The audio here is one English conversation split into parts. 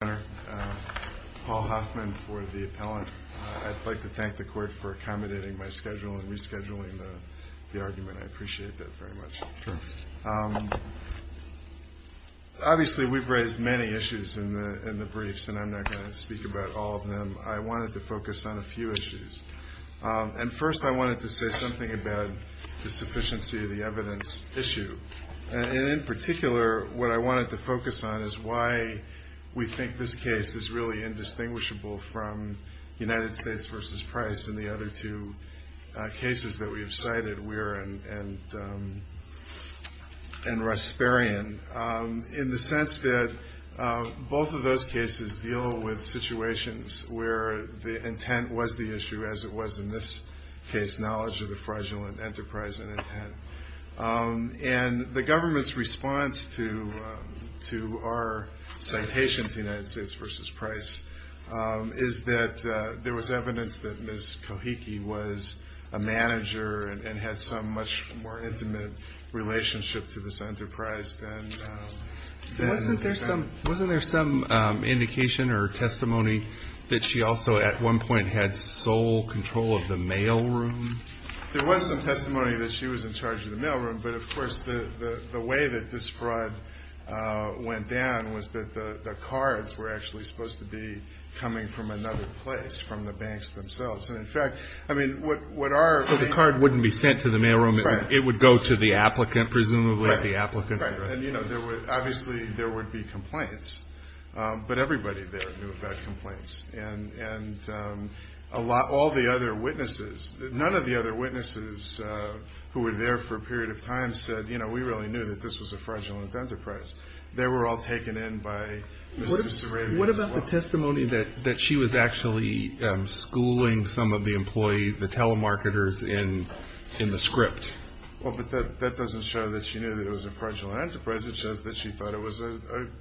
I'd like to thank the Court for accommodating my schedule and rescheduling the argument. I appreciate that very much. Obviously, we've raised many issues in the briefs, and I'm not going to speak about all of them. I wanted to focus on a few issues. First, I wanted to say something about the sufficiency of the evidence issue. In particular, what I wanted to focus on is why we think this case is really indistinguishable from United States v. Price and the other two cases that we have cited, Weir and Rasparian, in the sense that both of those cases deal with situations where the intent was the issue, as it was in this case, knowledge of the fraudulent enterprise and intent. The government's response to our citation to United States v. Price is that there was evidence that Ms. Kohiki was a manager and had some much more intimate relationship to this enterprise. Wasn't there some indication or testimony that she also, at one point, had sole control of the mail room? There was some testimony that she was in charge of the mail room, but of course the way that this fraud went down was that the cards were actually supposed to be coming from another place, from the banks themselves. So the card wouldn't be sent to the mail room? Right. It would go to the applicant, presumably? Right. Obviously, there would be complaints, but everybody there knew about complaints. And all the other witnesses, none of the other witnesses who were there for a period of time said, you know, we really knew that this was a fraudulent enterprise. They were all taken in by Mr. Sarabia as well. What about the testimony that she was actually schooling some of the employees, the telemarketers, in the script? Well, but that doesn't show that she knew that it was a fraudulent enterprise. It shows that she thought it was an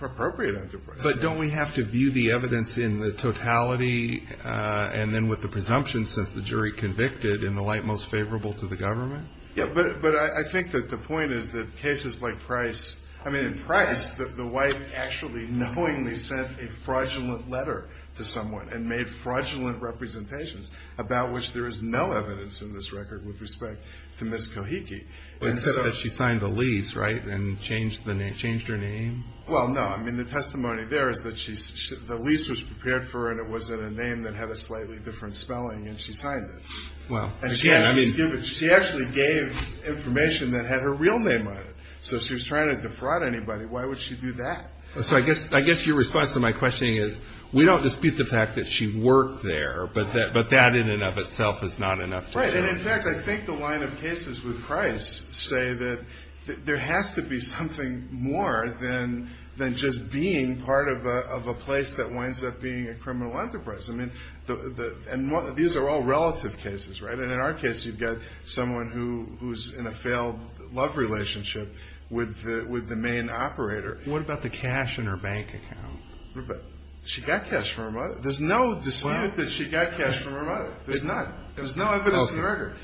appropriate enterprise. But don't we have to view the evidence in the totality and then with the presumption since the jury convicted in the light most favorable to the government? Yeah, but I think that the point is that cases like Price, I mean, in Price, the wife actually knowingly sent a fraudulent letter to someone and made fraudulent representations about which there is no evidence in this record with respect to Ms. Kohiki. Except that she signed the lease, right, and changed her name? Well, no. I mean, the testimony there is that the lease was prepared for her, and it was in a name that had a slightly different spelling, and she signed it. She actually gave information that had her real name on it. So if she was trying to defraud anybody, why would she do that? So I guess your response to my questioning is we don't dispute the fact that she worked there, but that in and of itself is not enough. Right, and, in fact, I think the line of cases with Price say that there has to be something more than just being part of a place that winds up being a criminal enterprise. I mean, these are all relative cases, right? And in our case, you've got someone who's in a failed love relationship with the main operator. What about the cash in her bank account? She got cash from her mother. There's no dispute that she got cash from her mother. There's none. There's no evidence of murder.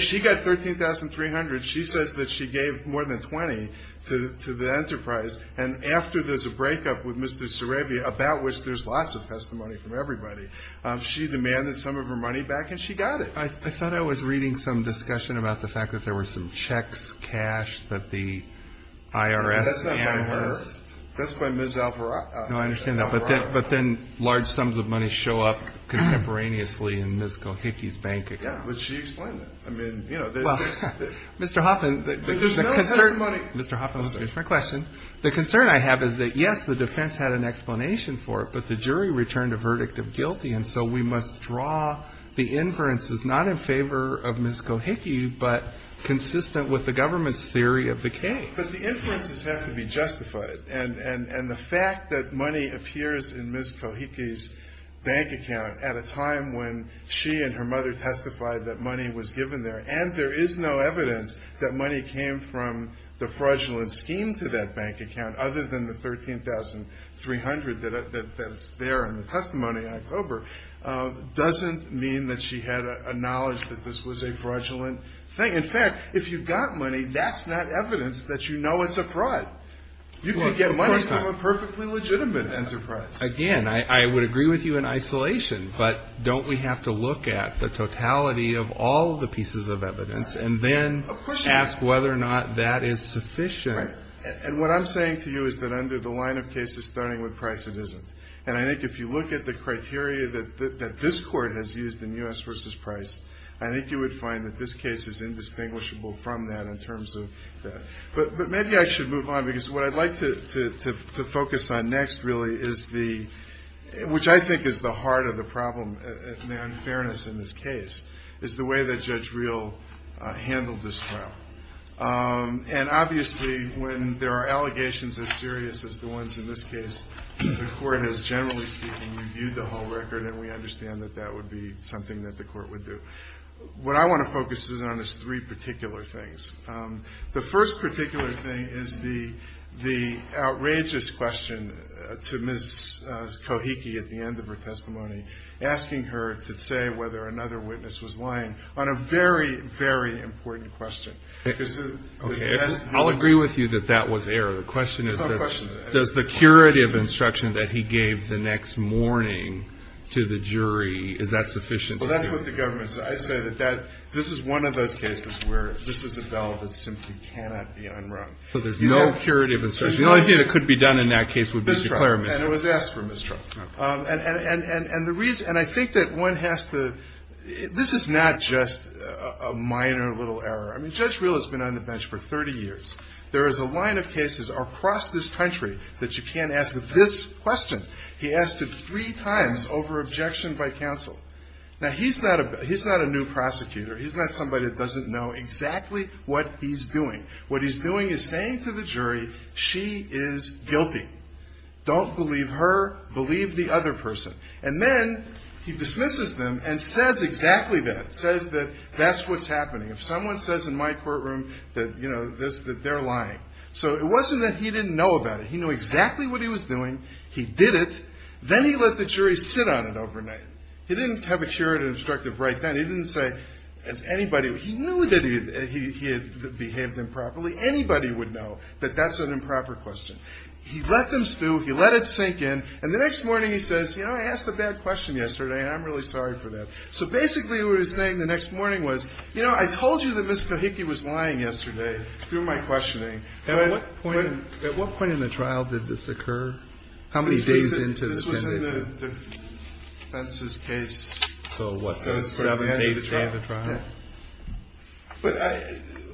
She got $13,300. She says that she gave more than $20 to the enterprise, and after there's a breakup with Mr. Sarabia, about which there's lots of testimony from everybody, she demanded some of her money back, and she got it. I thought I was reading some discussion about the fact that there were some checks, cash that the IRS That's not by her. That's by Ms. Alvarado. No, I understand that. But then large sums of money show up contemporaneously in Ms. Gohicke's bank account. Yeah, but she explained that. I mean, you know, there's no testimony. Mr. Hoffman, let me finish my question. The concern I have is that, yes, the defense had an explanation for it, but the jury returned a verdict of guilty, and so we must draw the inferences not in favor of Ms. Gohicke, but consistent with the government's theory of the case. But the inferences have to be justified. And the fact that money appears in Ms. Gohicke's bank account at a time when she and her mother testified that money was given there and there is no evidence that money came from the fraudulent scheme to that bank account other than the $13,300 that's there in the testimony in October doesn't mean that she had a knowledge that this was a fraudulent thing. In fact, if you've got money, that's not evidence that you know it's a fraud. You can get money from a perfectly legitimate enterprise. Again, I would agree with you in isolation, but don't we have to look at the totality of all the pieces of evidence and then ask whether or not that is sufficient? And what I'm saying to you is that under the line of cases starting with Price, it isn't. And I think if you look at the criteria that this Court has used in U.S. v. Price, I think you would find that this case is indistinguishable from that in terms of that. But maybe I should move on because what I'd like to focus on next really is the which I think is the heart of the problem and the unfairness in this case is the way that Judge Reel handled this trial. And obviously when there are allegations as serious as the ones in this case, the Court has generally, speaking, reviewed the whole record and we understand that that would be something that the Court would do. What I want to focus on is three particular things. The first particular thing is the outrageous question to Ms. Kohiki at the end of her testimony, asking her to say whether another witness was lying on a very, very important question. Okay. I'll agree with you that that was error. The question is does the curative instruction that he gave the next morning to the jury, is that sufficient? Well, that's what the government says. I say that this is one of those cases where this is a bell that simply cannot be unrung. So there's no curative instruction. The only thing that could be done in that case would be to declare a misdemeanor. And it was asked for mistrust. And the reason, and I think that one has to, this is not just a minor little error. I mean, Judge Reel has been on the bench for 30 years. There is a line of cases across this country that you can't ask this question. He asked it three times over objection by counsel. Now, he's not a new prosecutor. He's not somebody that doesn't know exactly what he's doing. What he's doing is saying to the jury, she is guilty. Don't believe her. Believe the other person. And then he dismisses them and says exactly that. Says that that's what's happening. If someone says in my courtroom that, you know, this, that they're lying. So it wasn't that he didn't know about it. He knew exactly what he was doing. He did it. Then he let the jury sit on it overnight. He didn't have a juror and instructive right then. He didn't say, as anybody, he knew that he had behaved improperly. Anybody would know that that's an improper question. He let them stew. He let it sink in. And the next morning he says, you know, I asked a bad question yesterday, and I'm really sorry for that. So basically what he was saying the next morning was, you know, I told you that Ms. Kohiki was lying yesterday through my questioning. And at what point in the trial did this occur? How many days into this? That's in the defense's case. So what's going to put an end to the trial? Yeah. But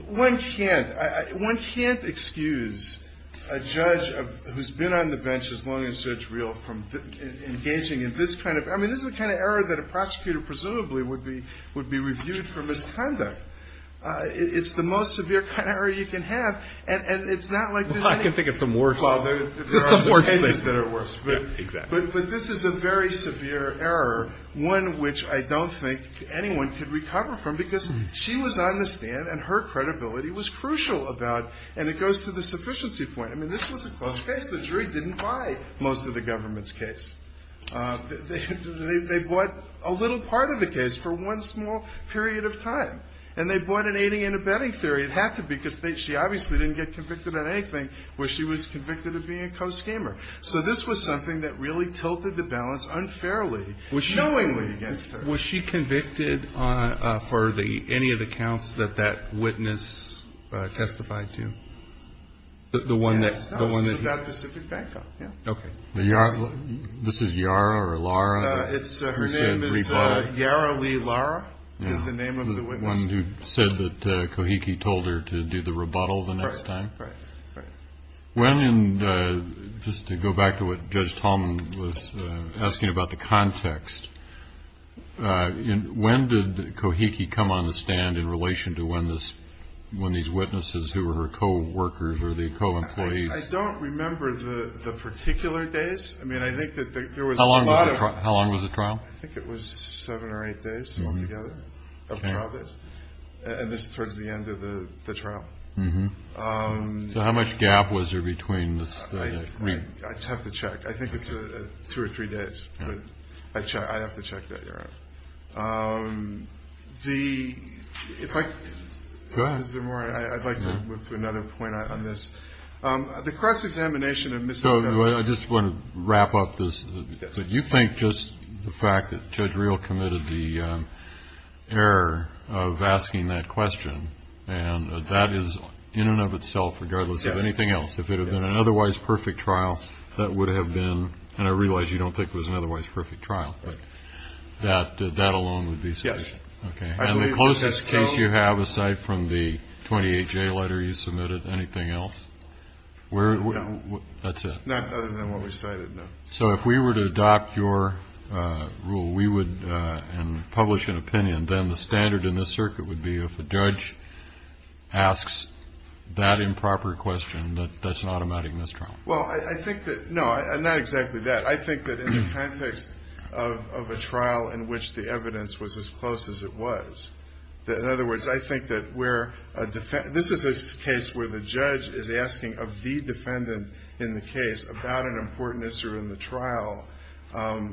one can't excuse a judge who's been on the bench as long as it's real from engaging in this kind of – I mean, this is the kind of error that a prosecutor presumably would be reviewed for misconduct. It's the most severe kind of error you can have. And it's not like there's any – Well, I can think of some worse. Well, there are some cases that are worse. Yeah, exactly. But this is a very severe error, one which I don't think anyone could recover from because she was on the stand and her credibility was crucial about – and it goes to the sufficiency point. I mean, this was a close case. The jury didn't buy most of the government's case. They bought a little part of the case for one small period of time. And they bought an aiding and abetting theory. It had to be because she obviously didn't get convicted on anything where she was convicted of being a co-scammer. So this was something that really tilted the balance unfairly, knowingly against her. Was she convicted on – for any of the counts that that witness testified to? The one that – Yes. The one that – That Pacific Bank. Yeah. Okay. This is Yara or Lara? Her name is Yara Lee Lara is the name of the witness. The one who said that Kohiki told her to do the rebuttal the next time? Right, right, right. When – and just to go back to what Judge Tallman was asking about the context. When did Kohiki come on the stand in relation to when this – when these witnesses who were her coworkers or the co-employees – I don't remember the particular days. I mean, I think that there was a lot of – How long was the trial? I think it was seven or eight days altogether of trial days. And this is towards the end of the trial. So how much gap was there between the three? I'd have to check. I think it's two or three days. But I have to check that, Your Honor. The – if I – Go ahead. Is there more? I'd like to move to another point on this. The cross-examination of Ms. – So I just want to wrap up this. You think just the fact that Judge Real committed the error of asking that question and that is in and of itself regardless of anything else. Yes. If it had been an otherwise perfect trial, that would have been – and I realize you don't think it was an otherwise perfect trial. Right. But that alone would be sufficient. Yes. Okay. And the closest case you have, aside from the 28-J letter you submitted, anything else? No. That's it? So if we were to adopt your rule, we would – and publish an opinion, then the standard in this circuit would be if a judge asks that improper question, that that's an automatic mistrial. Well, I think that – no, not exactly that. I think that in the context of a trial in which the evidence was as close as it was. In other words, I think that where a – this is a case where the judge is asking of the defendant in the case about an important issue in the trial, a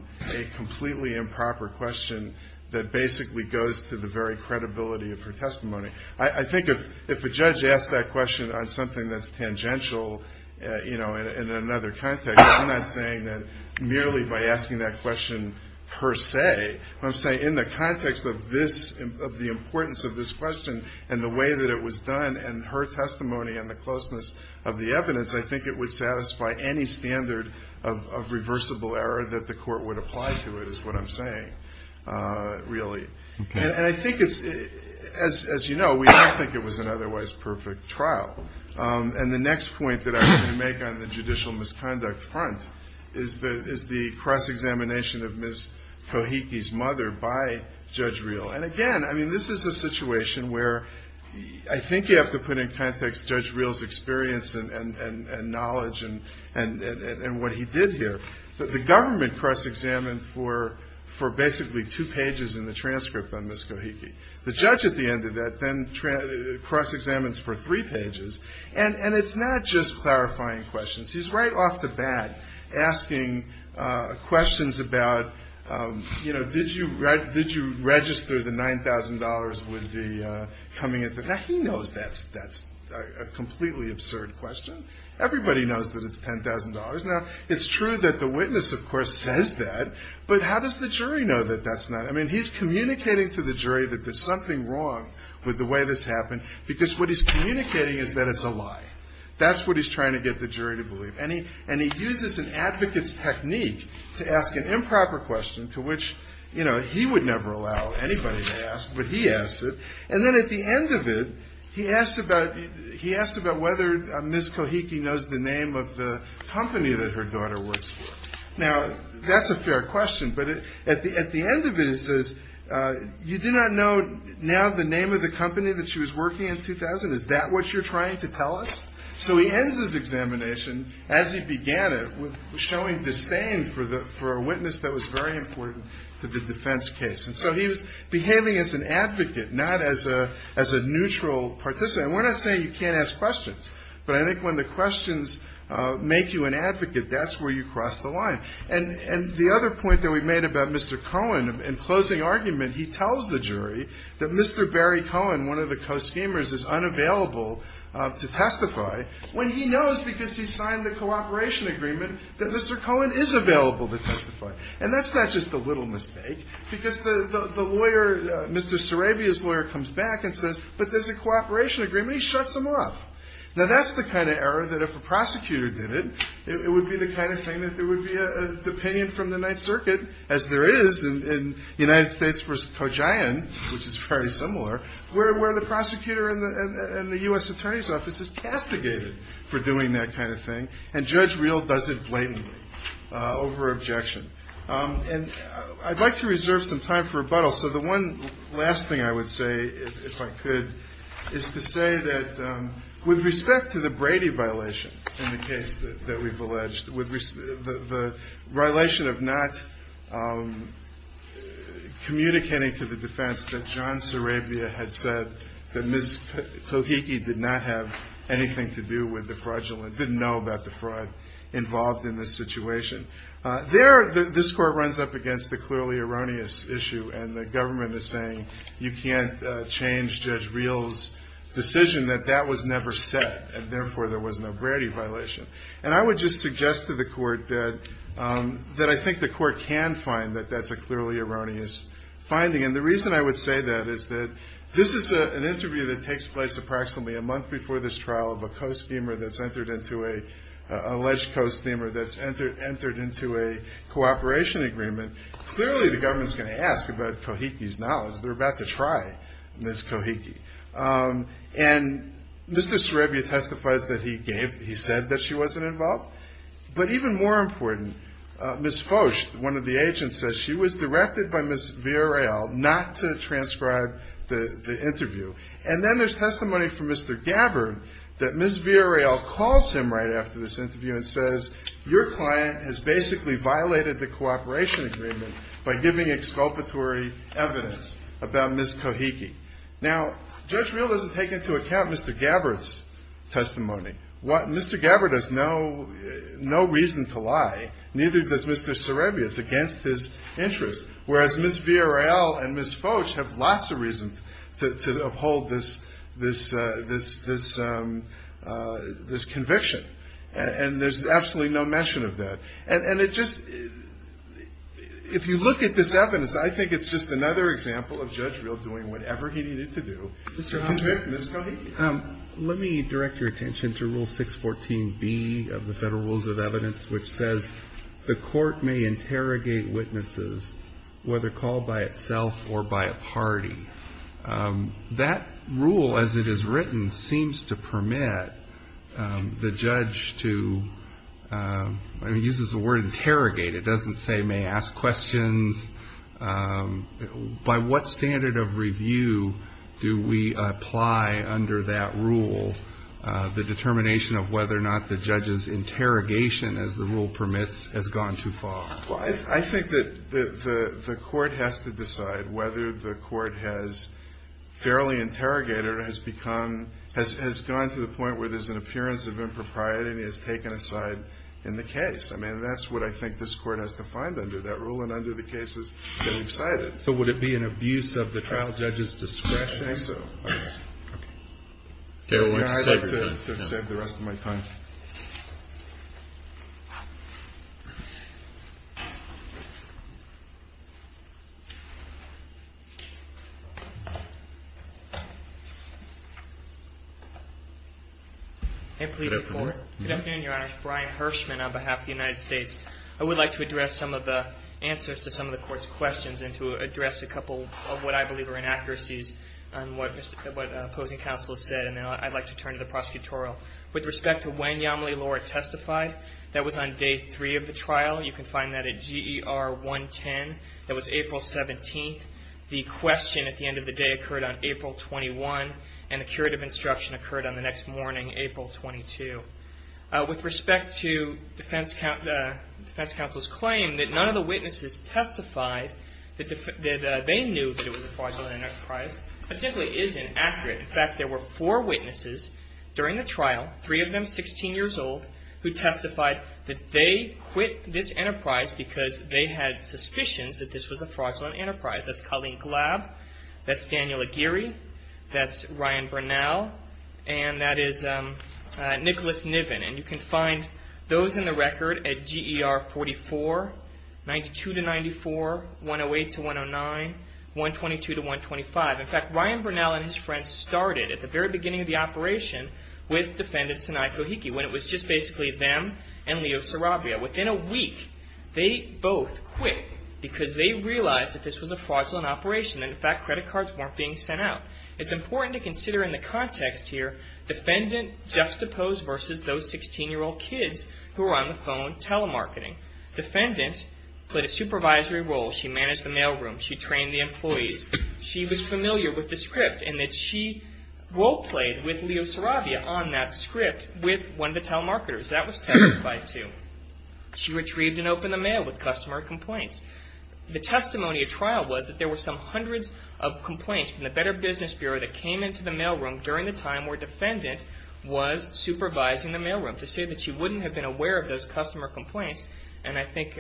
completely improper question that basically goes to the very credibility of her testimony. I think if a judge asks that question on something that's tangential in another context, I'm not saying that merely by asking that question per se. I'm saying in the context of this – of the importance of this question and the way that it was done and her testimony and the closeness of the evidence, I think it would satisfy any standard of reversible error that the court would apply to it is what I'm saying, really. Okay. And I think it's – as you know, we don't think it was an otherwise perfect trial. And the next point that I'm going to make on the judicial misconduct front is the cross-examination of Ms. Kohiki's mother by Judge Reel. And again, I mean, this is a situation where I think you have to put in context Judge Reel's experience and knowledge and what he did here. The government cross-examined for basically two pages in the transcript on Ms. Kohiki. The judge at the end of that then cross-examines for three pages. And it's not just clarifying questions. He's right off the bat asking questions about, you know, did you register the $9,000 with the coming of the – now, he knows that's a completely absurd question. Everybody knows that it's $10,000. Now, it's true that the witness, of course, says that. But how does the jury know that that's not – I mean, he's communicating to the jury that there's something wrong with the way this happened because what he's communicating is that it's a lie. That's what he's trying to get the jury to believe. And he uses an advocate's technique to ask an improper question to which, you know, he would never allow anybody to ask, but he asked it. And then at the end of it, he asks about whether Ms. Kohiki knows the name of the company that her daughter works for. Now, that's a fair question. But at the end of it, he says, you do not know now the name of the company that she was working in 2000? Is that what you're trying to tell us? So he ends his examination, as he began it, showing disdain for a witness that was very important to the defense case. And so he was behaving as an advocate, not as a neutral participant. And we're not saying you can't ask questions. But I think when the questions make you an advocate, that's where you cross the line. And the other point that we made about Mr. Cohen in closing argument, he tells the jury that Mr. Barry Cohen, one of the co-schemers, is unavailable to testify, when he knows because he signed the cooperation agreement that Mr. Cohen is available to testify. And that's not just a little mistake. Because the lawyer, Mr. Sarabia's lawyer, comes back and says, but there's a cooperation agreement. He shuts them off. Now, that's the kind of error that if a prosecutor did it, it would be the kind of thing that there would be a opinion from the Ninth Circuit, as there is in United States v. Kojain, which is fairly similar, where the prosecutor in the U.S. Attorney's Office is castigated for doing that kind of thing. And Judge Reel does it blatantly over objection. And I'd like to reserve some time for rebuttal. So the one last thing I would say, if I could, is to say that with respect to the Brady violation in the case that we've alleged, the violation of not communicating to the defense that John Sarabia had said that Ms. Kohiki did not have anything to do with the fraudulent, didn't know about the fraud involved in this situation. There, this Court runs up against the clearly erroneous issue, and the government is saying you can't change Judge Reel's decision that that was never said, and therefore there was no Brady violation. And I would just suggest to the Court that I think the Court can find that that's a clearly erroneous finding. And the reason I would say that is that this is an interview that takes place approximately a month before this trial of an alleged co-schemer that's entered into a cooperation agreement. Clearly the government's going to ask about Kohiki's knowledge. They're about to try Ms. Kohiki. And Mr. Sarabia testifies that he said that she wasn't involved. But even more important, Ms. Foch, one of the agents, says she was directed by Ms. Villareal not to transcribe the interview. And then there's testimony from Mr. Gabbard that Ms. Villareal calls him right after this interview and says, your client has basically violated the cooperation agreement by giving exculpatory evidence about Ms. Kohiki. Now, Judge Reel doesn't take into account Mr. Gabbard's testimony. Mr. Gabbard has no reason to lie, neither does Mr. Sarabia. It's against his interest. Whereas Ms. Villareal and Ms. Foch have lots of reasons to uphold this conviction. And there's absolutely no mention of that. And it just – if you look at this evidence, I think it's just another example of Judge Reel doing whatever he needed to do to convict Ms. Kohiki. Let me direct your attention to Rule 614B of the Federal Rules of Evidence, which says the court may interrogate witnesses, whether called by itself or by a party. That rule, as it is written, seems to permit the judge to – it uses the word interrogate. It doesn't say may ask questions. By what standard of review do we apply under that rule the determination of whether or not the judge's interrogation, as the rule permits, has gone too far? Well, I think that the court has to decide whether the court has fairly interrogated or has become – has gone to the point where there's an appearance of impropriety and has taken a side in the case. I mean, that's what I think this court has defined under that rule. And under the cases that we've cited. So would it be an abuse of the trial judge's discretion? I think so. Okay. I'd like to save the rest of my time. Good afternoon, Your Honor. Good afternoon, Your Honor. Brian Hirschman on behalf of the United States. I would like to address some of the answers to some of the court's questions and to address a couple of what I believe are inaccuracies on what opposing counsel has said. And then I'd like to turn to the prosecutorial. With respect to when Yamile Lora testified, that was on day three of the trial. You can find that at GER 110. That was April 17th. The question at the end of the day occurred on April 21. And the curative instruction occurred on the next morning, April 22. With respect to defense counsel's claim that none of the witnesses testified that they knew that it was a fraudulent enterprise. That simply isn't accurate. In fact, there were four witnesses during the trial, three of them 16 years old, who testified that they quit this enterprise because they had suspicions that this was a fraudulent enterprise. That's Colleen Glab. That's Daniel Aguirre. That's Ryan Bernal. And that is Nicholas Niven. And you can find those in the record at GER 44, 92-94, 108-109, 122-125. In fact, Ryan Bernal and his friends started at the very beginning of the operation with defendants when it was just basically them and Leo Sarabia. Within a week, they both quit because they realized that this was a fraudulent operation. In fact, credit cards weren't being sent out. It's important to consider in the context here, defendant juxtaposed versus those 16-year-old kids who were on the phone telemarketing. Defendant played a supervisory role. She managed the mailroom. She trained the employees. She was familiar with the script in that she role-played with Leo Sarabia on that script with one of the telemarketers. That was testified to. She retrieved and opened the mail with customer complaints. The testimony at trial was that there were some hundreds of complaints from the Better Business Bureau that came into the mailroom during the time where defendant was supervising the mailroom to say that she wouldn't have been aware of those customer complaints. And I think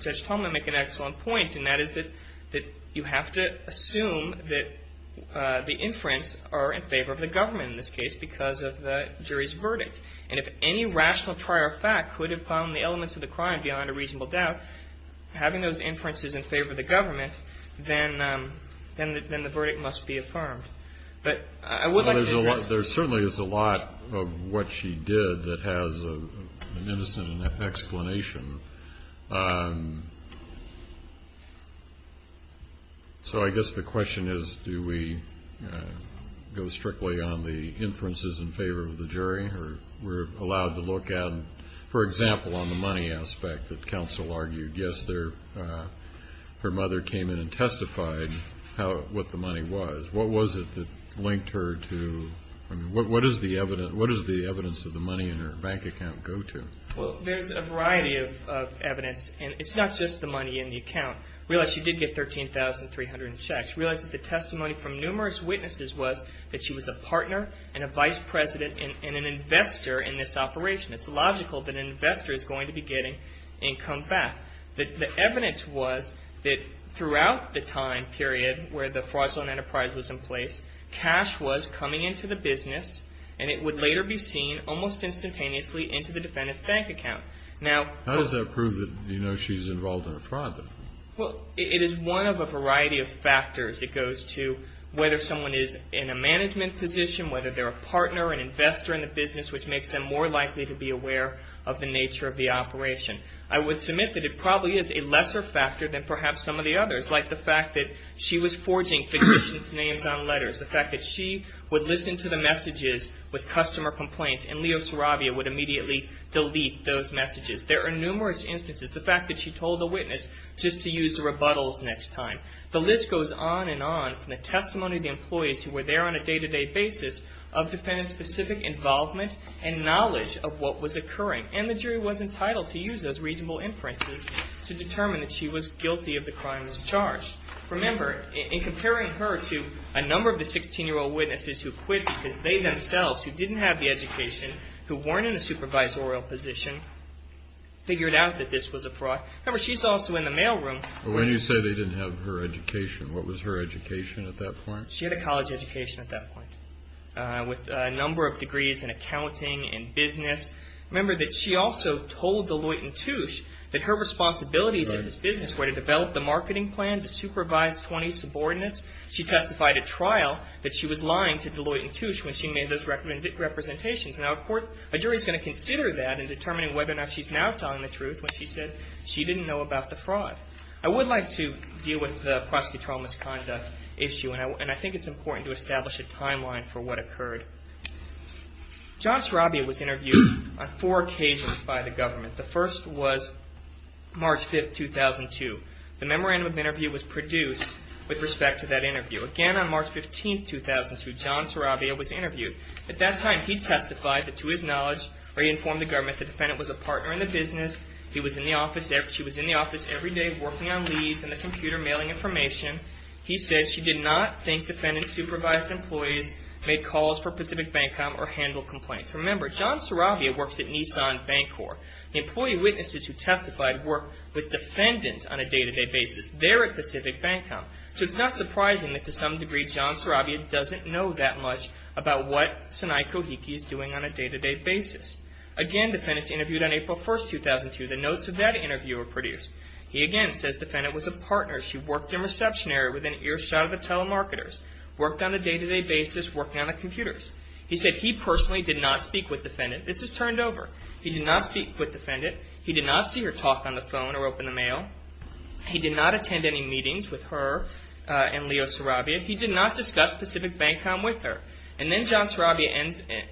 Judge Tomlin made an excellent point, and that is that you have to assume that the inference are in favor of the government, in this case, because of the jury's verdict. And if any rational trial fact could have found the elements of the crime beyond a reasonable doubt, having those inferences in favor of the government, then the verdict must be affirmed. But I would like to address. There certainly is a lot of what she did that has an innocent enough explanation. So I guess the question is, do we go strictly on the inferences in favor of the jury, or we're allowed to look at, for example, on the money aspect that counsel argued? Yes, her mother came in and testified what the money was. What was it that linked her to? What does the evidence of the money in her bank account go to? Well, there's a variety of evidence, and it's not just the money in the account. Realize she did get 13,300 checks. Realize that the testimony from numerous witnesses was that she was a partner and a vice president and an investor in this operation. It's logical that an investor is going to be getting income back. The evidence was that throughout the time period where the fraudulent enterprise was in place, cash was coming into the business, and it would later be seen almost instantaneously into the defendant's bank account. How does that prove that you know she's involved in a fraud? Well, it is one of a variety of factors. It goes to whether someone is in a management position, whether they're a partner, an investor in the business, which makes them more likely to be aware of the nature of the operation. I would submit that it probably is a lesser factor than perhaps some of the others, like the fact that she was forging physicians' names on letters, the fact that she would listen to the messages with customer complaints, and Leo Saravia would immediately delete those messages. There are numerous instances. The fact that she told a witness just to use rebuttals next time. The list goes on and on from the testimony of the employees who were there on a day-to-day basis of defendant-specific involvement and knowledge of what was occurring, and the jury was entitled to use those reasonable inferences to determine that she was guilty of the crime that was charged. Remember, in comparing her to a number of the 16-year-old witnesses who quit because they themselves, who didn't have the education, who weren't in a supervisorial position, figured out that this was a fraud. Remember, she's also in the mail room. When you say they didn't have her education, what was her education at that point? She had a college education at that point with a number of degrees in accounting and business. Remember that she also told Deloitte & Touche that her responsibilities in this business were to develop the marketing plan to supervise 20 subordinates. She testified at trial that she was lying to Deloitte & Touche when she made those representations. Now, a jury is going to consider that in determining whether or not she's now telling the truth when she said she didn't know about the fraud. I would like to deal with the prosecutorial misconduct issue, and I think it's important to establish a timeline for what occurred. John Sarabia was interviewed on four occasions by the government. The first was March 5, 2002. The memorandum of interview was produced with respect to that interview. Again, on March 15, 2002, John Sarabia was interviewed. At that time, he testified that to his knowledge, or he informed the government, that the defendant was a partner in the business. She was in the office every day working on leads and the computer mailing information. He said she did not think defendant-supervised employees made calls for Pacific Bank Com or handled complaints. Remember, John Sarabia works at Nissan Bank Corp. The employee witnesses who testified work with defendants on a day-to-day basis. They're at Pacific Bank Com. So it's not surprising that, to some degree, John Sarabia doesn't know that much about what Sanai Kohiki is doing on a day-to-day basis. Again, the defendant was interviewed on April 1, 2002. The notes of that interview were produced. He again says the defendant was a partner. She worked in reception area with an earshot of the telemarketers, worked on a day-to-day basis, working on the computers. He said he personally did not speak with defendant. This is turned over. He did not speak with defendant. He did not see her talk on the phone or open the mail. He did not attend any meetings with her and Leo Sarabia. He did not discuss Pacific Bank Com with her. And then John Sarabia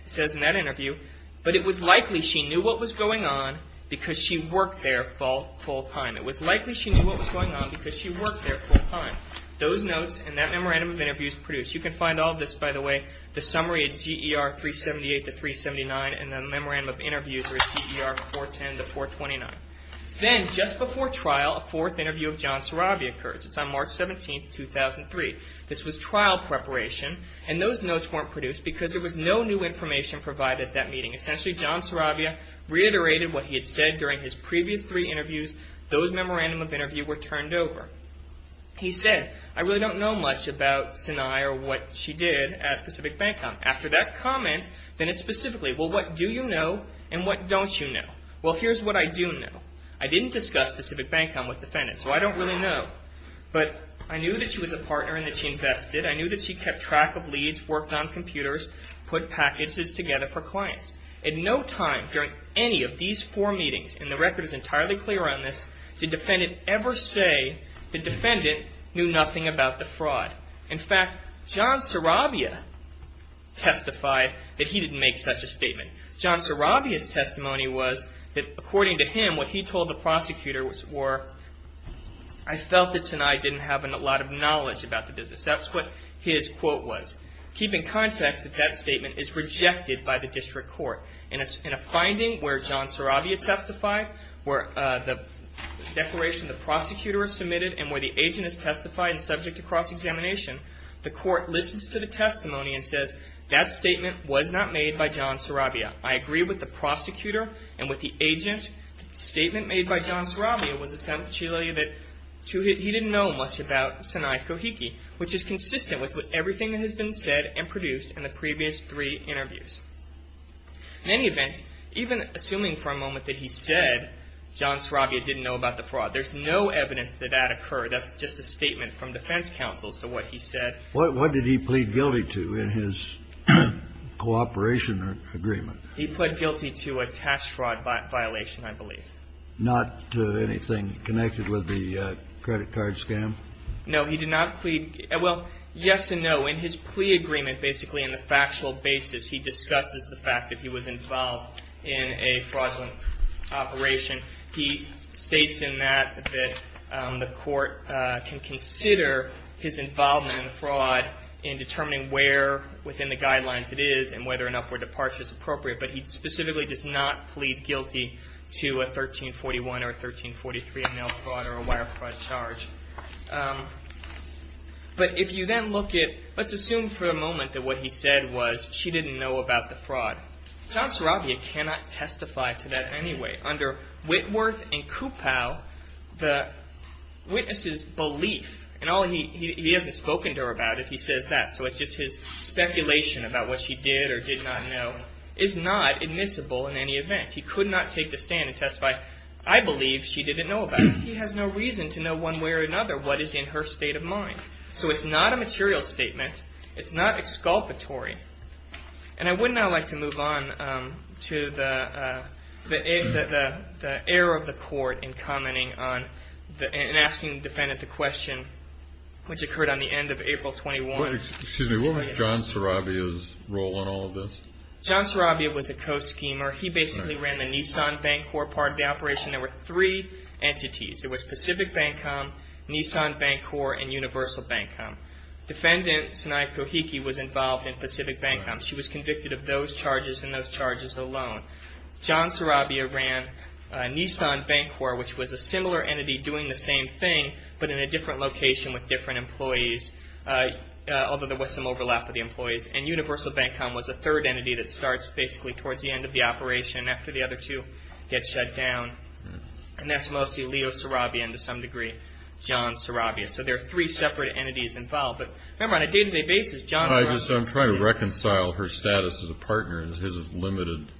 says in that interview, but it was likely she knew what was going on because she worked there full-time. It was likely she knew what was going on because she worked there full-time. Those notes and that memorandum of interviews produced. You can find all this, by the way, the summary at GER 378 to 379, and the memorandum of interviews are at GER 410 to 429. Then, just before trial, a fourth interview of John Sarabia occurs. It's on March 17, 2003. This was trial preparation. And those notes weren't produced because there was no new information provided at that meeting. Essentially, John Sarabia reiterated what he had said during his previous three interviews. Those memorandum of interviews were turned over. He said, I really don't know much about Sinai or what she did at Pacific Bank Com. After that comment, then it's specifically, well, what do you know and what don't you know? Well, here's what I do know. I didn't discuss Pacific Bank Com with defendant, so I don't really know. But I knew that she was a partner and that she invested. I knew that she kept track of leads, worked on computers, put packages together for clients. At no time during any of these four meetings, and the record is entirely clear on this, did defendant ever say the defendant knew nothing about the fraud. In fact, John Sarabia testified that he didn't make such a statement. John Sarabia's testimony was that, according to him, what he told the prosecutor were, I felt that Sinai didn't have a lot of knowledge about the business. That's what his quote was. Keep in context that that statement is rejected by the district court. In a finding where John Sarabia testified, where the declaration of the prosecutor is submitted, and where the agent is testified and subject to cross-examination, the court listens to the testimony and says, that statement was not made by John Sarabia. I agree with the prosecutor and with the agent. The statement made by John Sarabia was essentially that he didn't know much about Sinai Kohiki, which is consistent with everything that has been said and produced in the previous three interviews. In any event, even assuming for a moment that he said John Sarabia didn't know about the fraud, there's no evidence that that occurred. That's just a statement from defense counsel as to what he said. What did he plead guilty to in his cooperation agreement? He pled guilty to a tax fraud violation, I believe. Not anything connected with the credit card scam? No. He did not plead – well, yes and no. In his plea agreement, basically in the factual basis, he discusses the fact that he was involved in a fraudulent operation. He states in that that the court can consider his involvement in the fraud in determining where within the guidelines it is and whether an upward departure is appropriate. But he specifically does not plead guilty to a 1341 or a 1343, a mail fraud or a wire fraud charge. But if you then look at – let's assume for a moment that what he said was she didn't know about the fraud. John Sarabia cannot testify to that anyway. Under Whitworth and Kupow, the witness's belief – and he hasn't spoken to her about it, he says that, so it's just his speculation about what she did or did not know – is not admissible in any event. He could not take the stand and testify, I believe she didn't know about it. He has no reason to know one way or another what is in her state of mind. So it's not a material statement. It's not exculpatory. All right. And I would now like to move on to the error of the court in commenting on – in asking the defendant the question which occurred on the end of April 21. Excuse me. What was John Sarabia's role in all of this? John Sarabia was a co-schemer. He basically ran the Nissan Bank Corp. part of the operation. There were three entities. There was Pacific Bank Corp., Nissan Bank Corp., and Universal Bank Corp. Defendant Sanai Kohiki was involved in Pacific Bank Corp. She was convicted of those charges and those charges alone. John Sarabia ran Nissan Bank Corp., which was a similar entity doing the same thing but in a different location with different employees, although there was some overlap with the employees. And Universal Bank Corp. was the third entity that starts basically towards the end of the operation and after the other two get shut down. And that's mostly Leo Sarabia and, to some degree, John Sarabia. So there are three separate entities involved. But, remember, on a day-to-day basis, John – I'm trying to reconcile her status as a partner and his limited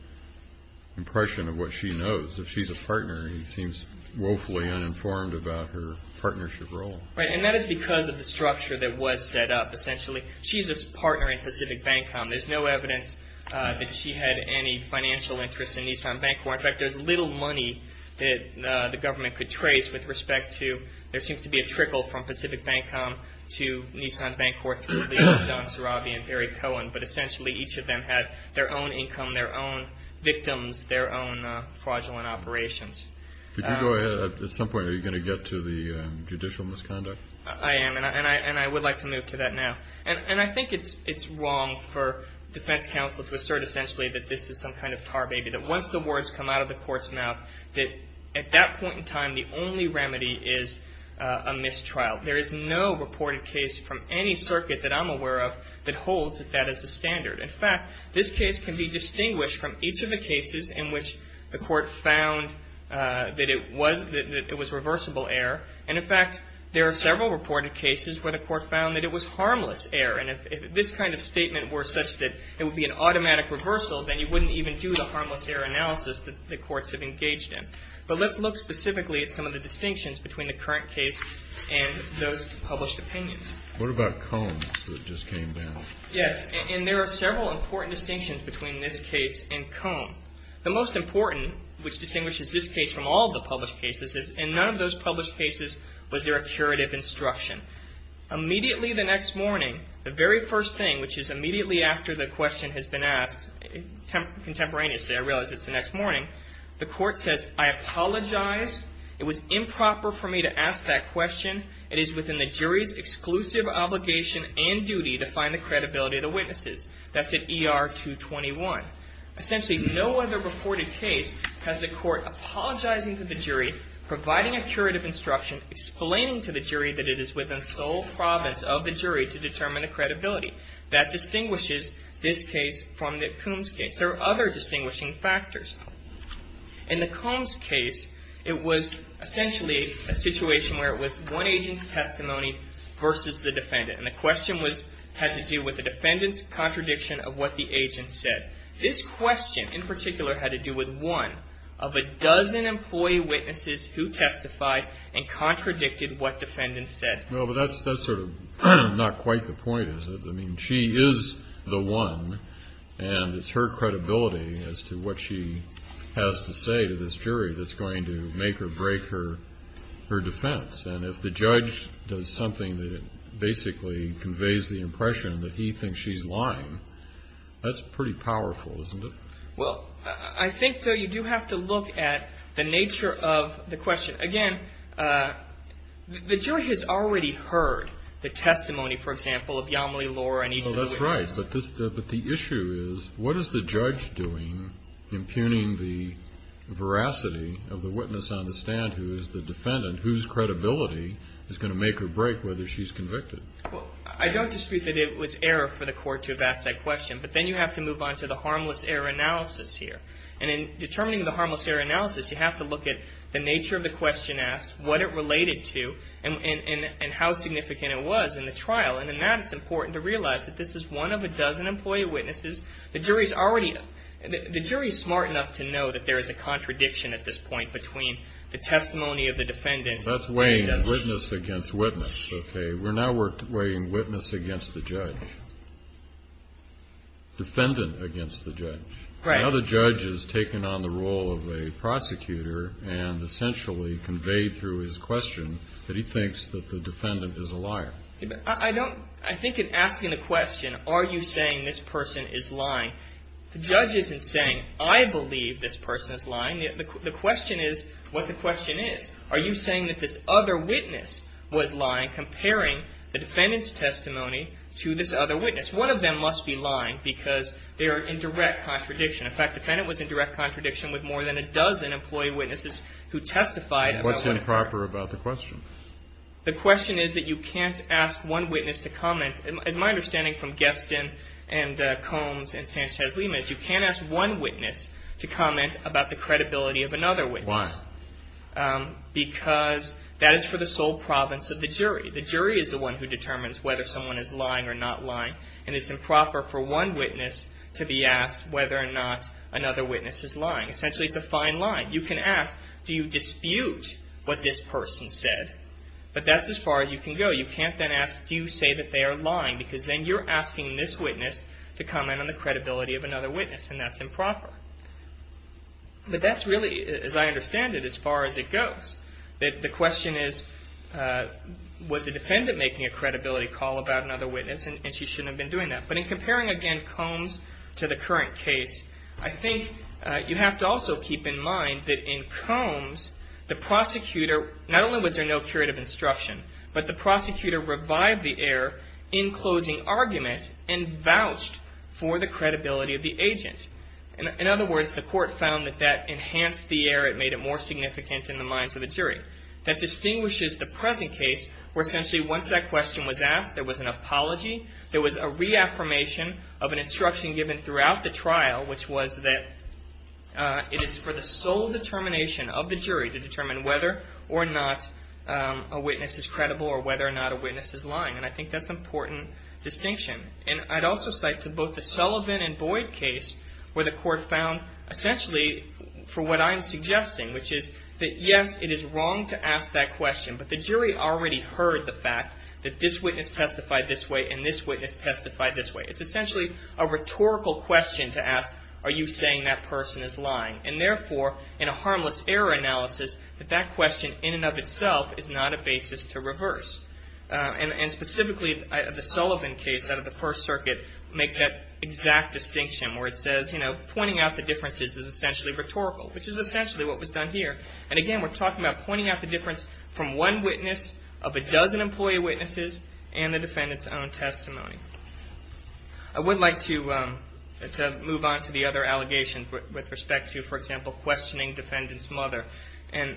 impression of what she knows. If she's a partner, he seems woefully uninformed about her partnership role. Right, and that is because of the structure that was set up, essentially. She's a partner in Pacific Bank Corp. There's no evidence that she had any financial interest in Nissan Bank Corp. In fact, there's little money that the government could trace with respect to – from Pacific Bank Corp. to Nissan Bank Corp. through Leo, John Sarabia, and Barry Cohen. But, essentially, each of them had their own income, their own victims, their own fraudulent operations. Could you go ahead? At some point, are you going to get to the judicial misconduct? I am, and I would like to move to that now. And I think it's wrong for defense counsel to assert, essentially, that this is some kind of car baby, that once the words come out of the court's mouth, that at that point in time, the only remedy is a mistrial. There is no reported case from any circuit that I'm aware of that holds that that is the standard. In fact, this case can be distinguished from each of the cases in which the court found that it was reversible error. And, in fact, there are several reported cases where the court found that it was harmless error. And if this kind of statement were such that it would be an automatic reversal, then you wouldn't even do the harmless error analysis that the courts have engaged in. But let's look specifically at some of the distinctions between the current case and those published opinions. What about Combs that just came down? Yes. And there are several important distinctions between this case and Combs. The most important, which distinguishes this case from all the published cases, is in none of those published cases was there a curative instruction. Immediately the next morning, the very first thing, which is immediately after the question has been asked, contemporaneously, I realize it's the next morning, the court says, I apologize. It was improper for me to ask that question. It is within the jury's exclusive obligation and duty to find the credibility of the witnesses. That's at ER 221. Essentially, no other reported case has the court apologizing to the jury, providing a curative instruction, explaining to the jury that it is within sole province of the jury to determine the credibility. That distinguishes this case from the Combs case. There are other distinguishing factors. In the Combs case, it was essentially a situation where it was one agent's testimony versus the defendant. And the question was, has to do with the defendant's contradiction of what the agent said. This question, in particular, had to do with one of a dozen employee witnesses who testified and contradicted what defendants said. Well, but that's sort of not quite the point, is it? I mean, she is the one, and it's her credibility as to what she has to say to this jury that's going to make or break her defense. And if the judge does something that basically conveys the impression that he thinks she's lying, that's pretty powerful, isn't it? Well, I think, though, you do have to look at the nature of the question. Again, the jury has already heard the testimony, for example, of Yamile Lor and each of the witnesses. Well, that's right. But the issue is, what is the judge doing impugning the veracity of the witness on the stand who is the defendant, whose credibility is going to make or break whether she's convicted? Well, I don't dispute that it was error for the court to have asked that question. But then you have to move on to the harmless error analysis here. And in determining the harmless error analysis, you have to look at the nature of the question asked, what it related to, and how significant it was in the trial. And in that, it's important to realize that this is one of a dozen employee witnesses. The jury is smart enough to know that there is a contradiction at this point between the testimony of the defendant and the witness. That's weighing witness against witness, okay? We're now weighing witness against the judge, defendant against the judge. Right. Now the judge has taken on the role of a prosecutor and essentially conveyed through his question that he thinks that the defendant is a liar. I don't – I think in asking the question, are you saying this person is lying, the judge isn't saying, I believe this person is lying. The question is what the question is. Are you saying that this other witness was lying, comparing the defendant's testimony to this other witness? One of them must be lying because they are in direct contradiction. In fact, the defendant was in direct contradiction with more than a dozen employee witnesses who testified about witness error. What's improper about the question? The question is that you can't ask one witness to comment. It's my understanding from Geston and Combs and Sanchez-Limas, you can't ask one witness to comment about the credibility of another witness. Why? Because that is for the sole province of the jury. The jury is the one who determines whether someone is lying or not lying, and it's improper for one witness to be asked whether or not another witness is lying. Essentially, it's a fine line. You can ask, do you dispute what this person said? But that's as far as you can go. You can't then ask, do you say that they are lying, because then you're asking this witness to comment on the credibility of another witness, and that's improper. But that's really, as I understand it, as far as it goes. The question is, was the defendant making a credibility call about another witness, and she shouldn't have been doing that. But in comparing, again, Combs to the current case, I think you have to also keep in mind that in Combs, the prosecutor, not only was there no curative instruction, but the prosecutor revived the error in closing argument and vouched for the credibility of the agent. In other words, the court found that that enhanced the error. It made it more significant in the minds of the jury. That distinguishes the present case where essentially once that question was asked, there was an apology. There was a reaffirmation of an instruction given throughout the trial, which was that it is for the sole determination of the jury to determine whether or not a witness is credible or whether or not a witness is lying. And I think that's an important distinction. And I'd also cite to both the Sullivan and Boyd case where the court found essentially for what I'm suggesting, which is that, yes, it is wrong to ask that question, but the jury already heard the fact that this witness testified this way and this witness testified this way. It's essentially a rhetorical question to ask, are you saying that person is lying? And therefore, in a harmless error analysis, that question in and of itself is not a basis to reverse. And specifically, the Sullivan case out of the First Circuit makes that exact distinction where it says, you know, pointing out the differences is essentially rhetorical, which is essentially what was done here. And again, we're talking about pointing out the difference from one witness of a dozen employee witnesses and the defendant's own testimony. I would like to move on to the other allegations with respect to, for example, questioning defendant's mother. And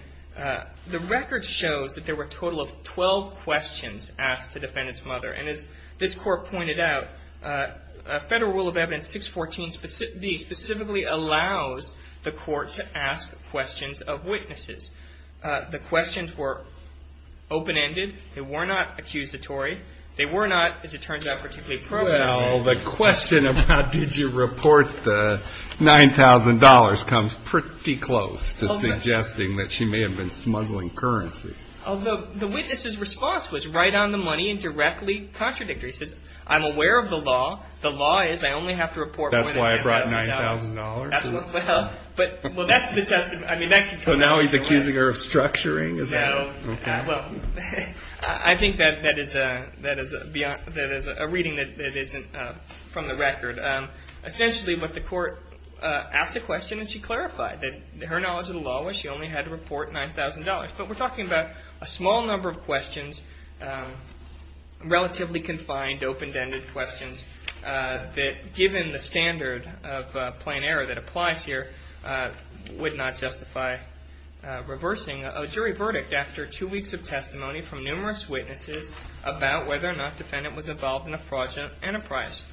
the record shows that there were a total of 12 questions asked to defendant's mother. And as this court pointed out, Federal Rule of Evidence 614B specifically allows the court to ask questions of witnesses. The questions were open-ended. They were not accusatory. They were not, as it turns out, particularly proven. Well, the question of how did you report the $9,000 comes pretty close to suggesting that she may have been smuggling currency. Although the witness's response was right on the money and directly contradictory. She says, I'm aware of the law. The law is I only have to report more than $9,000. That's why I brought $9,000. Well, that's the testimony. So now he's accusing her of structuring? No. Okay. Well, I think that is a reading that isn't from the record. Essentially, what the court asked a question, and she clarified that her knowledge of the law was she only had to report $9,000. But we're talking about a small number of questions, relatively confined, open-ended questions that, given the standard of plain error that applies here, would not justify reversing a jury verdict after two weeks of testimony from numerous witnesses about whether or not the defendant was involved in a fraudulent enterprise.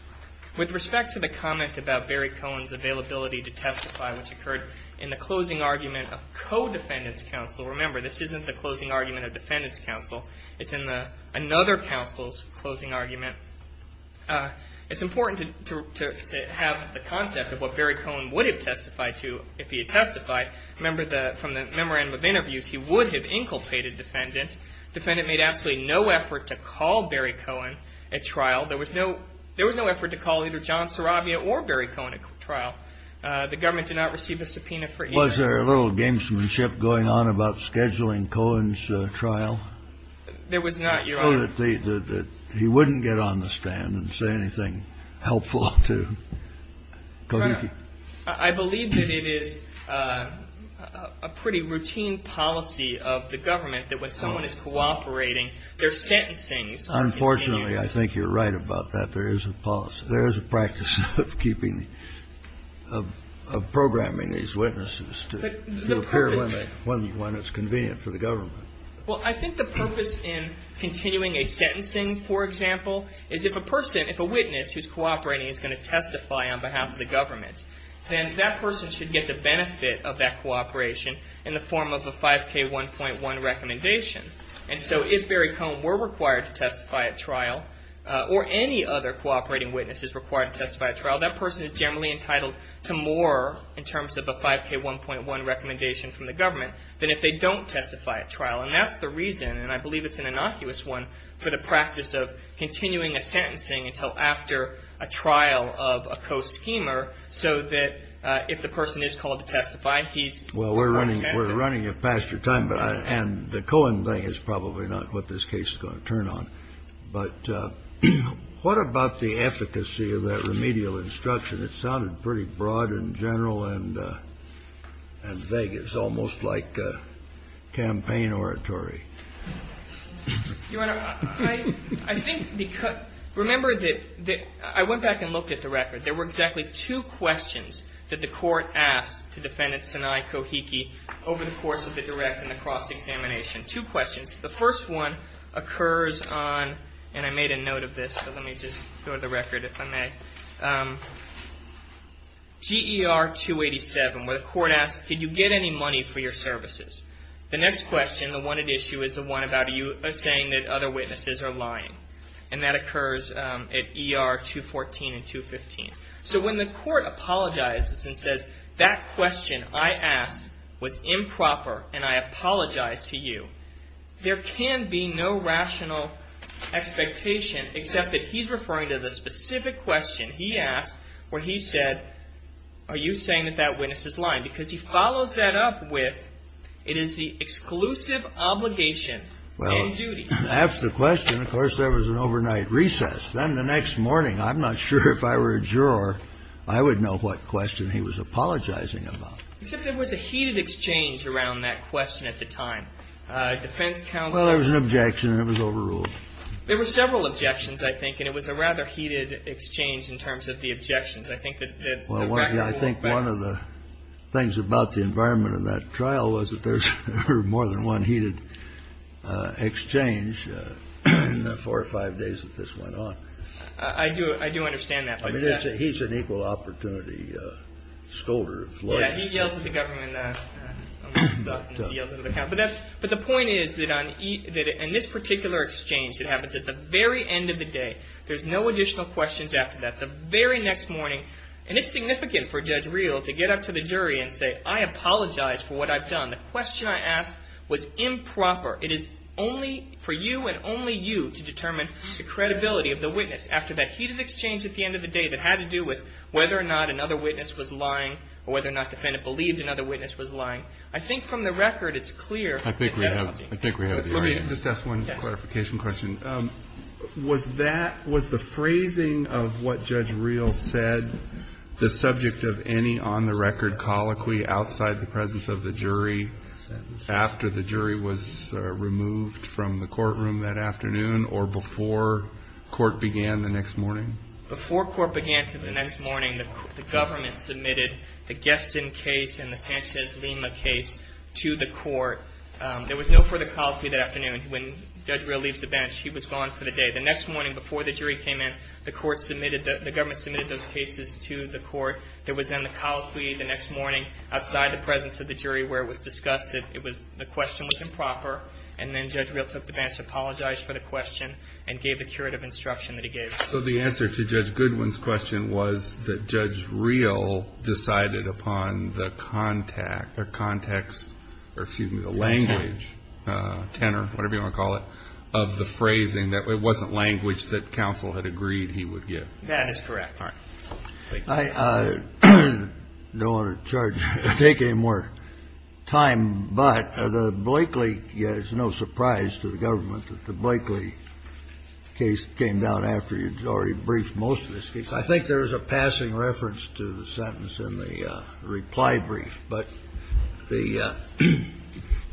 With respect to the comment about Barry Cohen's availability to testify, which occurred in the closing argument of co-defendant's counsel. Remember, this isn't the closing argument of defendant's counsel. It's in another counsel's closing argument. It's important to have the concept of what Barry Cohen would have testified to if he had testified. Remember from the memorandum of interviews, he would have inculpated defendant. Defendant made absolutely no effort to call Barry Cohen at trial. There was no effort to call either John Saravia or Barry Cohen at trial. The government did not receive a subpoena for either. Kennedy. Was there a little gamesmanship going on about scheduling Cohen's trial? There was not, Your Honor. So that he wouldn't get on the stand and say anything helpful to Kodaki? I believe that it is a pretty routine policy of the government that when someone is cooperating, they're sentencing. Unfortunately, I think you're right about that. There is a policy. There is a practice of keeping, of programming these witnesses to appear when it's convenient for the government. Well, I think the purpose in continuing a sentencing, for example, is if a person, if a witness who's cooperating is going to testify on behalf of the government, then that person should get the benefit of that cooperation in the form of a 5K1.1 recommendation. And so if Barry Cohen were required to testify at trial, or any other cooperating witness is required to testify at trial, that person is generally entitled to more, in terms of a 5K1.1 recommendation from the government, than if they don't testify at trial. And that's the reason, and I believe it's an innocuous one, for the practice of continuing a sentencing until after a trial of a co-schemer so that if the person is called to testify, he's. Well, we're running. We're running past your time. And the Cohen thing is probably not what this case is going to turn on. But what about the efficacy of that remedial instruction? It sounded pretty broad and general and vague. It's almost like campaign oratory. Your Honor, I think because, remember that I went back and looked at the record. There were exactly two questions that the court asked to Defendant Sanai Kohiki over the course of the direct and the cross-examination. Two questions. The first one occurs on, and I made a note of this, but let me just go to the record if I may. GER 287, where the court asks, did you get any money for your services? The next question, the one at issue, is the one about you saying that other witnesses are lying. And that occurs at ER 214 and 215. So when the court apologizes and says, that question I asked was improper and I apologize to you, there can be no rational expectation except that he's referring to the specific question he asked where he said, are you saying that that witness is lying? Because he follows that up with, it is the exclusive obligation and duty. And that's the question. Of course, there was an overnight recess. Then the next morning, I'm not sure if I were a juror, I would know what question he was apologizing about. Except there was a heated exchange around that question at the time. Defense counsel. Well, there was an objection and it was overruled. There were several objections, I think, and it was a rather heated exchange in terms of the objections. I think that the record would work better. Well, I think one of the things about the environment of that trial was that there were more than one heated exchange in the four or five days that this went on. I do. I do understand that. He's an equal opportunity scolder. Yeah. He yells at the government. But the point is that in this particular exchange, it happens at the very end of the day. There's no additional questions after that. The very next morning, and it's significant for Judge Reel to get up to the jury and say, I apologize for what I've done. The question I asked was improper. It is only for you and only you to determine the credibility of the witness after that heated exchange at the end of the day that had to do with whether or not another witness was lying or whether or not the defendant believed another witness was lying. I think from the record, it's clear. I think we have. I think we have. Let me just ask one clarification question. Yes. Was that, was the phrasing of what Judge Reel said the subject of any on-the-record colloquy outside the presence of the jury after the jury was removed from the courtroom that afternoon or before court began the next morning? Before court began the next morning, the government submitted the Geston case and the Sanchez-Lima case to the court. There was no further colloquy that afternoon. When Judge Reel leaves the bench, he was gone for the day. The next morning before the jury came in, the court submitted, the government submitted those cases to the court. There was then the colloquy the next morning outside the presence of the jury where it was discussed that it was, the question was improper. And then Judge Reel took the bench, apologized for the question, and gave the curative instruction that he gave. So the answer to Judge Goodwin's question was that Judge Reel decided upon the context, or excuse me, the language, tenor, whatever you want to call it, of the phrasing that it wasn't language that counsel had agreed he would give. That is correct. All right. Thank you. I don't want to charge, take any more time, but the Blakeley, it's no surprise to the government that the Blakeley case came down after you'd already briefed most of this case. I think there is a passing reference to the sentence in the reply brief, but the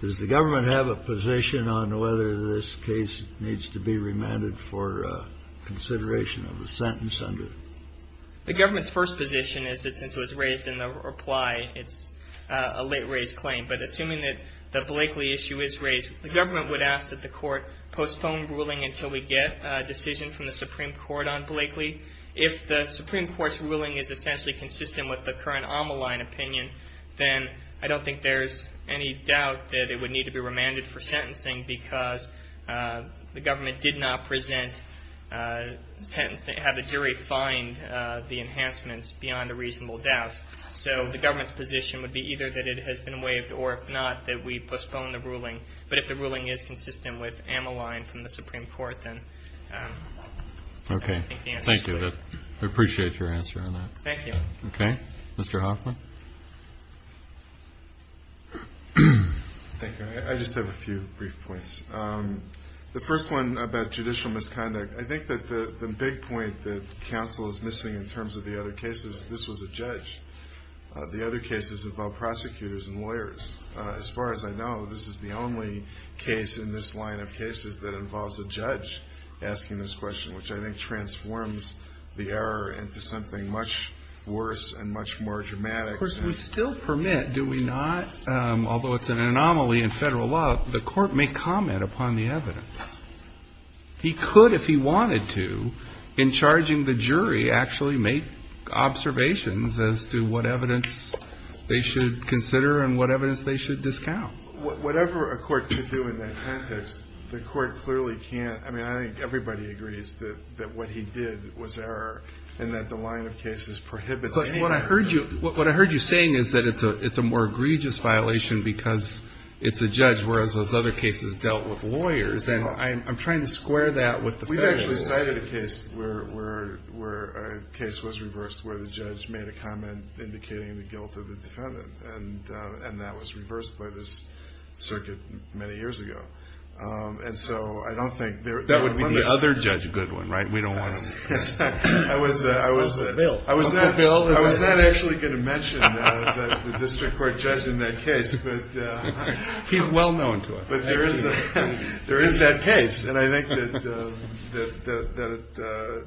does the government have a position on whether this case needs to be remanded for consideration of the sentence under? The government's first position is that since it was raised in the reply, it's a late-raise claim. But assuming that the Blakeley issue is raised, the government would ask that the court postpone ruling until we get a decision from the Supreme Court on Blakeley. If the Supreme Court's ruling is essentially consistent with the current Amaline opinion, then I don't think there's any doubt that it would need to be remanded for sentencing because the government did not present, have the jury find the enhancements beyond a reasonable doubt. So the government's position would be either that it has been waived or if not, that we postpone the ruling. But if the ruling is consistent with Amaline from the Supreme Court, then I think the answer is Blakeley. Okay. Thank you. I appreciate your answer on that. Thank you. Okay. Mr. Hoffman? Thank you. I just have a few brief points. The first one about judicial misconduct. I think that the big point that counsel is missing in terms of the other cases, this was a judge. The other cases involve prosecutors and lawyers. As far as I know, this is the only case in this line of cases that involves a judge asking this question, which I think transforms the error into something much worse and much more dramatic. Of course, we still permit, do we not, although it's an anomaly in federal law, the court may comment upon the evidence. He could, if he wanted to, in charging the jury, actually make observations as to what evidence they should consider and what evidence they should discount. Whatever a court should do in that context, the court clearly can't. I mean, I think everybody agrees that what he did was error and that the line of cases prohibits it. What I heard you saying is that it's a more egregious violation because it's a judge, whereas those other cases dealt with lawyers. I'm trying to square that with the federal law. We've actually cited a case where a case was reversed where the judge made a comment indicating the guilt of the defendant, and that was reversed by this circuit many years ago. And so I don't think there are limits. That would be the other judge, Goodwin, right? We don't want to say. I was not actually going to mention the district court judge in that case. He's well known to us. There is that case, and I think that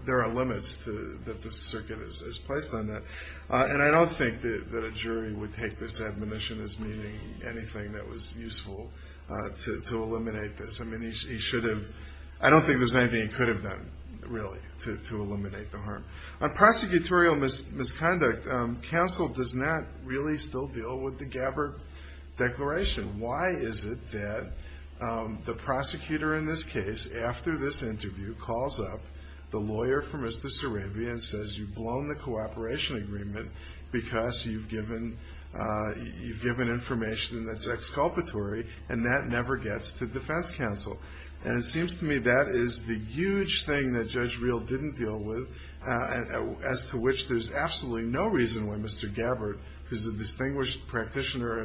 there are limits that this circuit has placed on that. And I don't think that a jury would take this admonition as meaning anything that was useful to eliminate this. I mean, he should have. I don't think there's anything he could have done, really, to eliminate the harm. On prosecutorial misconduct, counsel does not really still deal with the Gabbard Declaration. Why is it that the prosecutor in this case, after this interview, calls up the lawyer for Mr. Sarabia and says, you've blown the cooperation agreement because you've given information that's exculpatory, and that never gets to defense counsel? And it seems to me that is the huge thing that Judge Reel didn't deal with, as to which there's absolutely no reason why Mr. Gabbard, who's a distinguished practitioner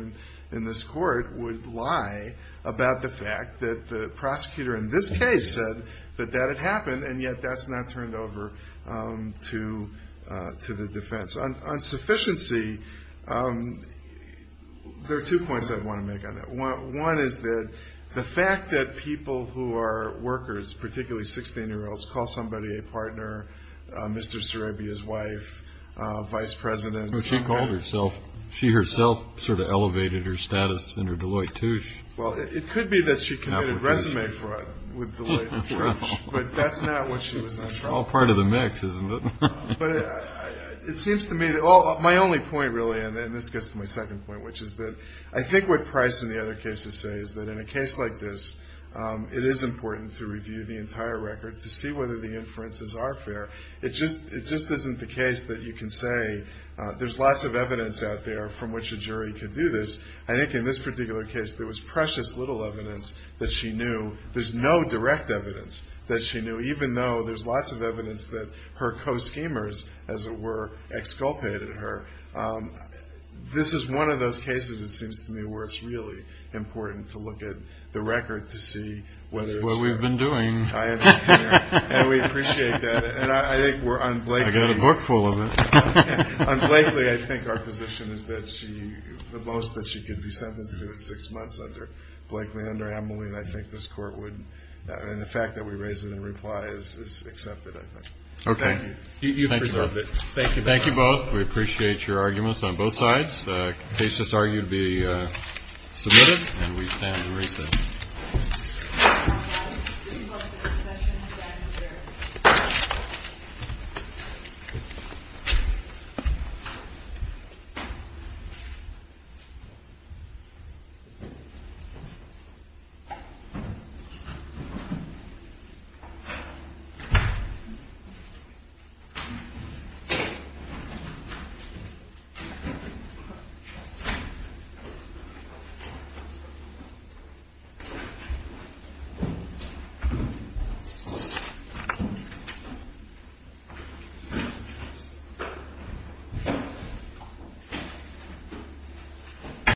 in this court, would lie about the fact that the prosecutor in this case said that that had happened, and yet that's not turned over to the defense. On sufficiency, there are two points I want to make on that. One is that the fact that people who are workers, particularly 16-year-olds, call somebody a partner, Mr. Sarabia's wife, vice president. Well, she called herself. She herself sort of elevated her status in her Deloitte Touche. Well, it could be that she committed resume fraud with Deloitte Touche, but that's not what she was on trial for. It's all part of the mix, isn't it? But it seems to me that my only point, really, and this gets to my second point, which is that I think what Price and the other cases say is that in a case like this, it is important to review the entire record to see whether the inferences are fair. It just isn't the case that you can say there's lots of evidence out there from which a jury could do this. I think in this particular case there was precious little evidence that she knew. There's no direct evidence that she knew, even though there's lots of evidence that her co-schemers, as it were, exculpated her. This is one of those cases, it seems to me, where it's really important to look at the record to see whether it's fair. That's what we've been doing. And we appreciate that. I've got a book full of it. Unblakely, I think our position is that she, the most that she could be sentenced to is six months under Blakely, under Amelie, and I think this court would, and the fact that we raise it in reply is accepted, I think. Okay. Thank you. Thank you both. We appreciate your arguments on both sides. The case is argued to be submitted, and we stand to recess. Thank you.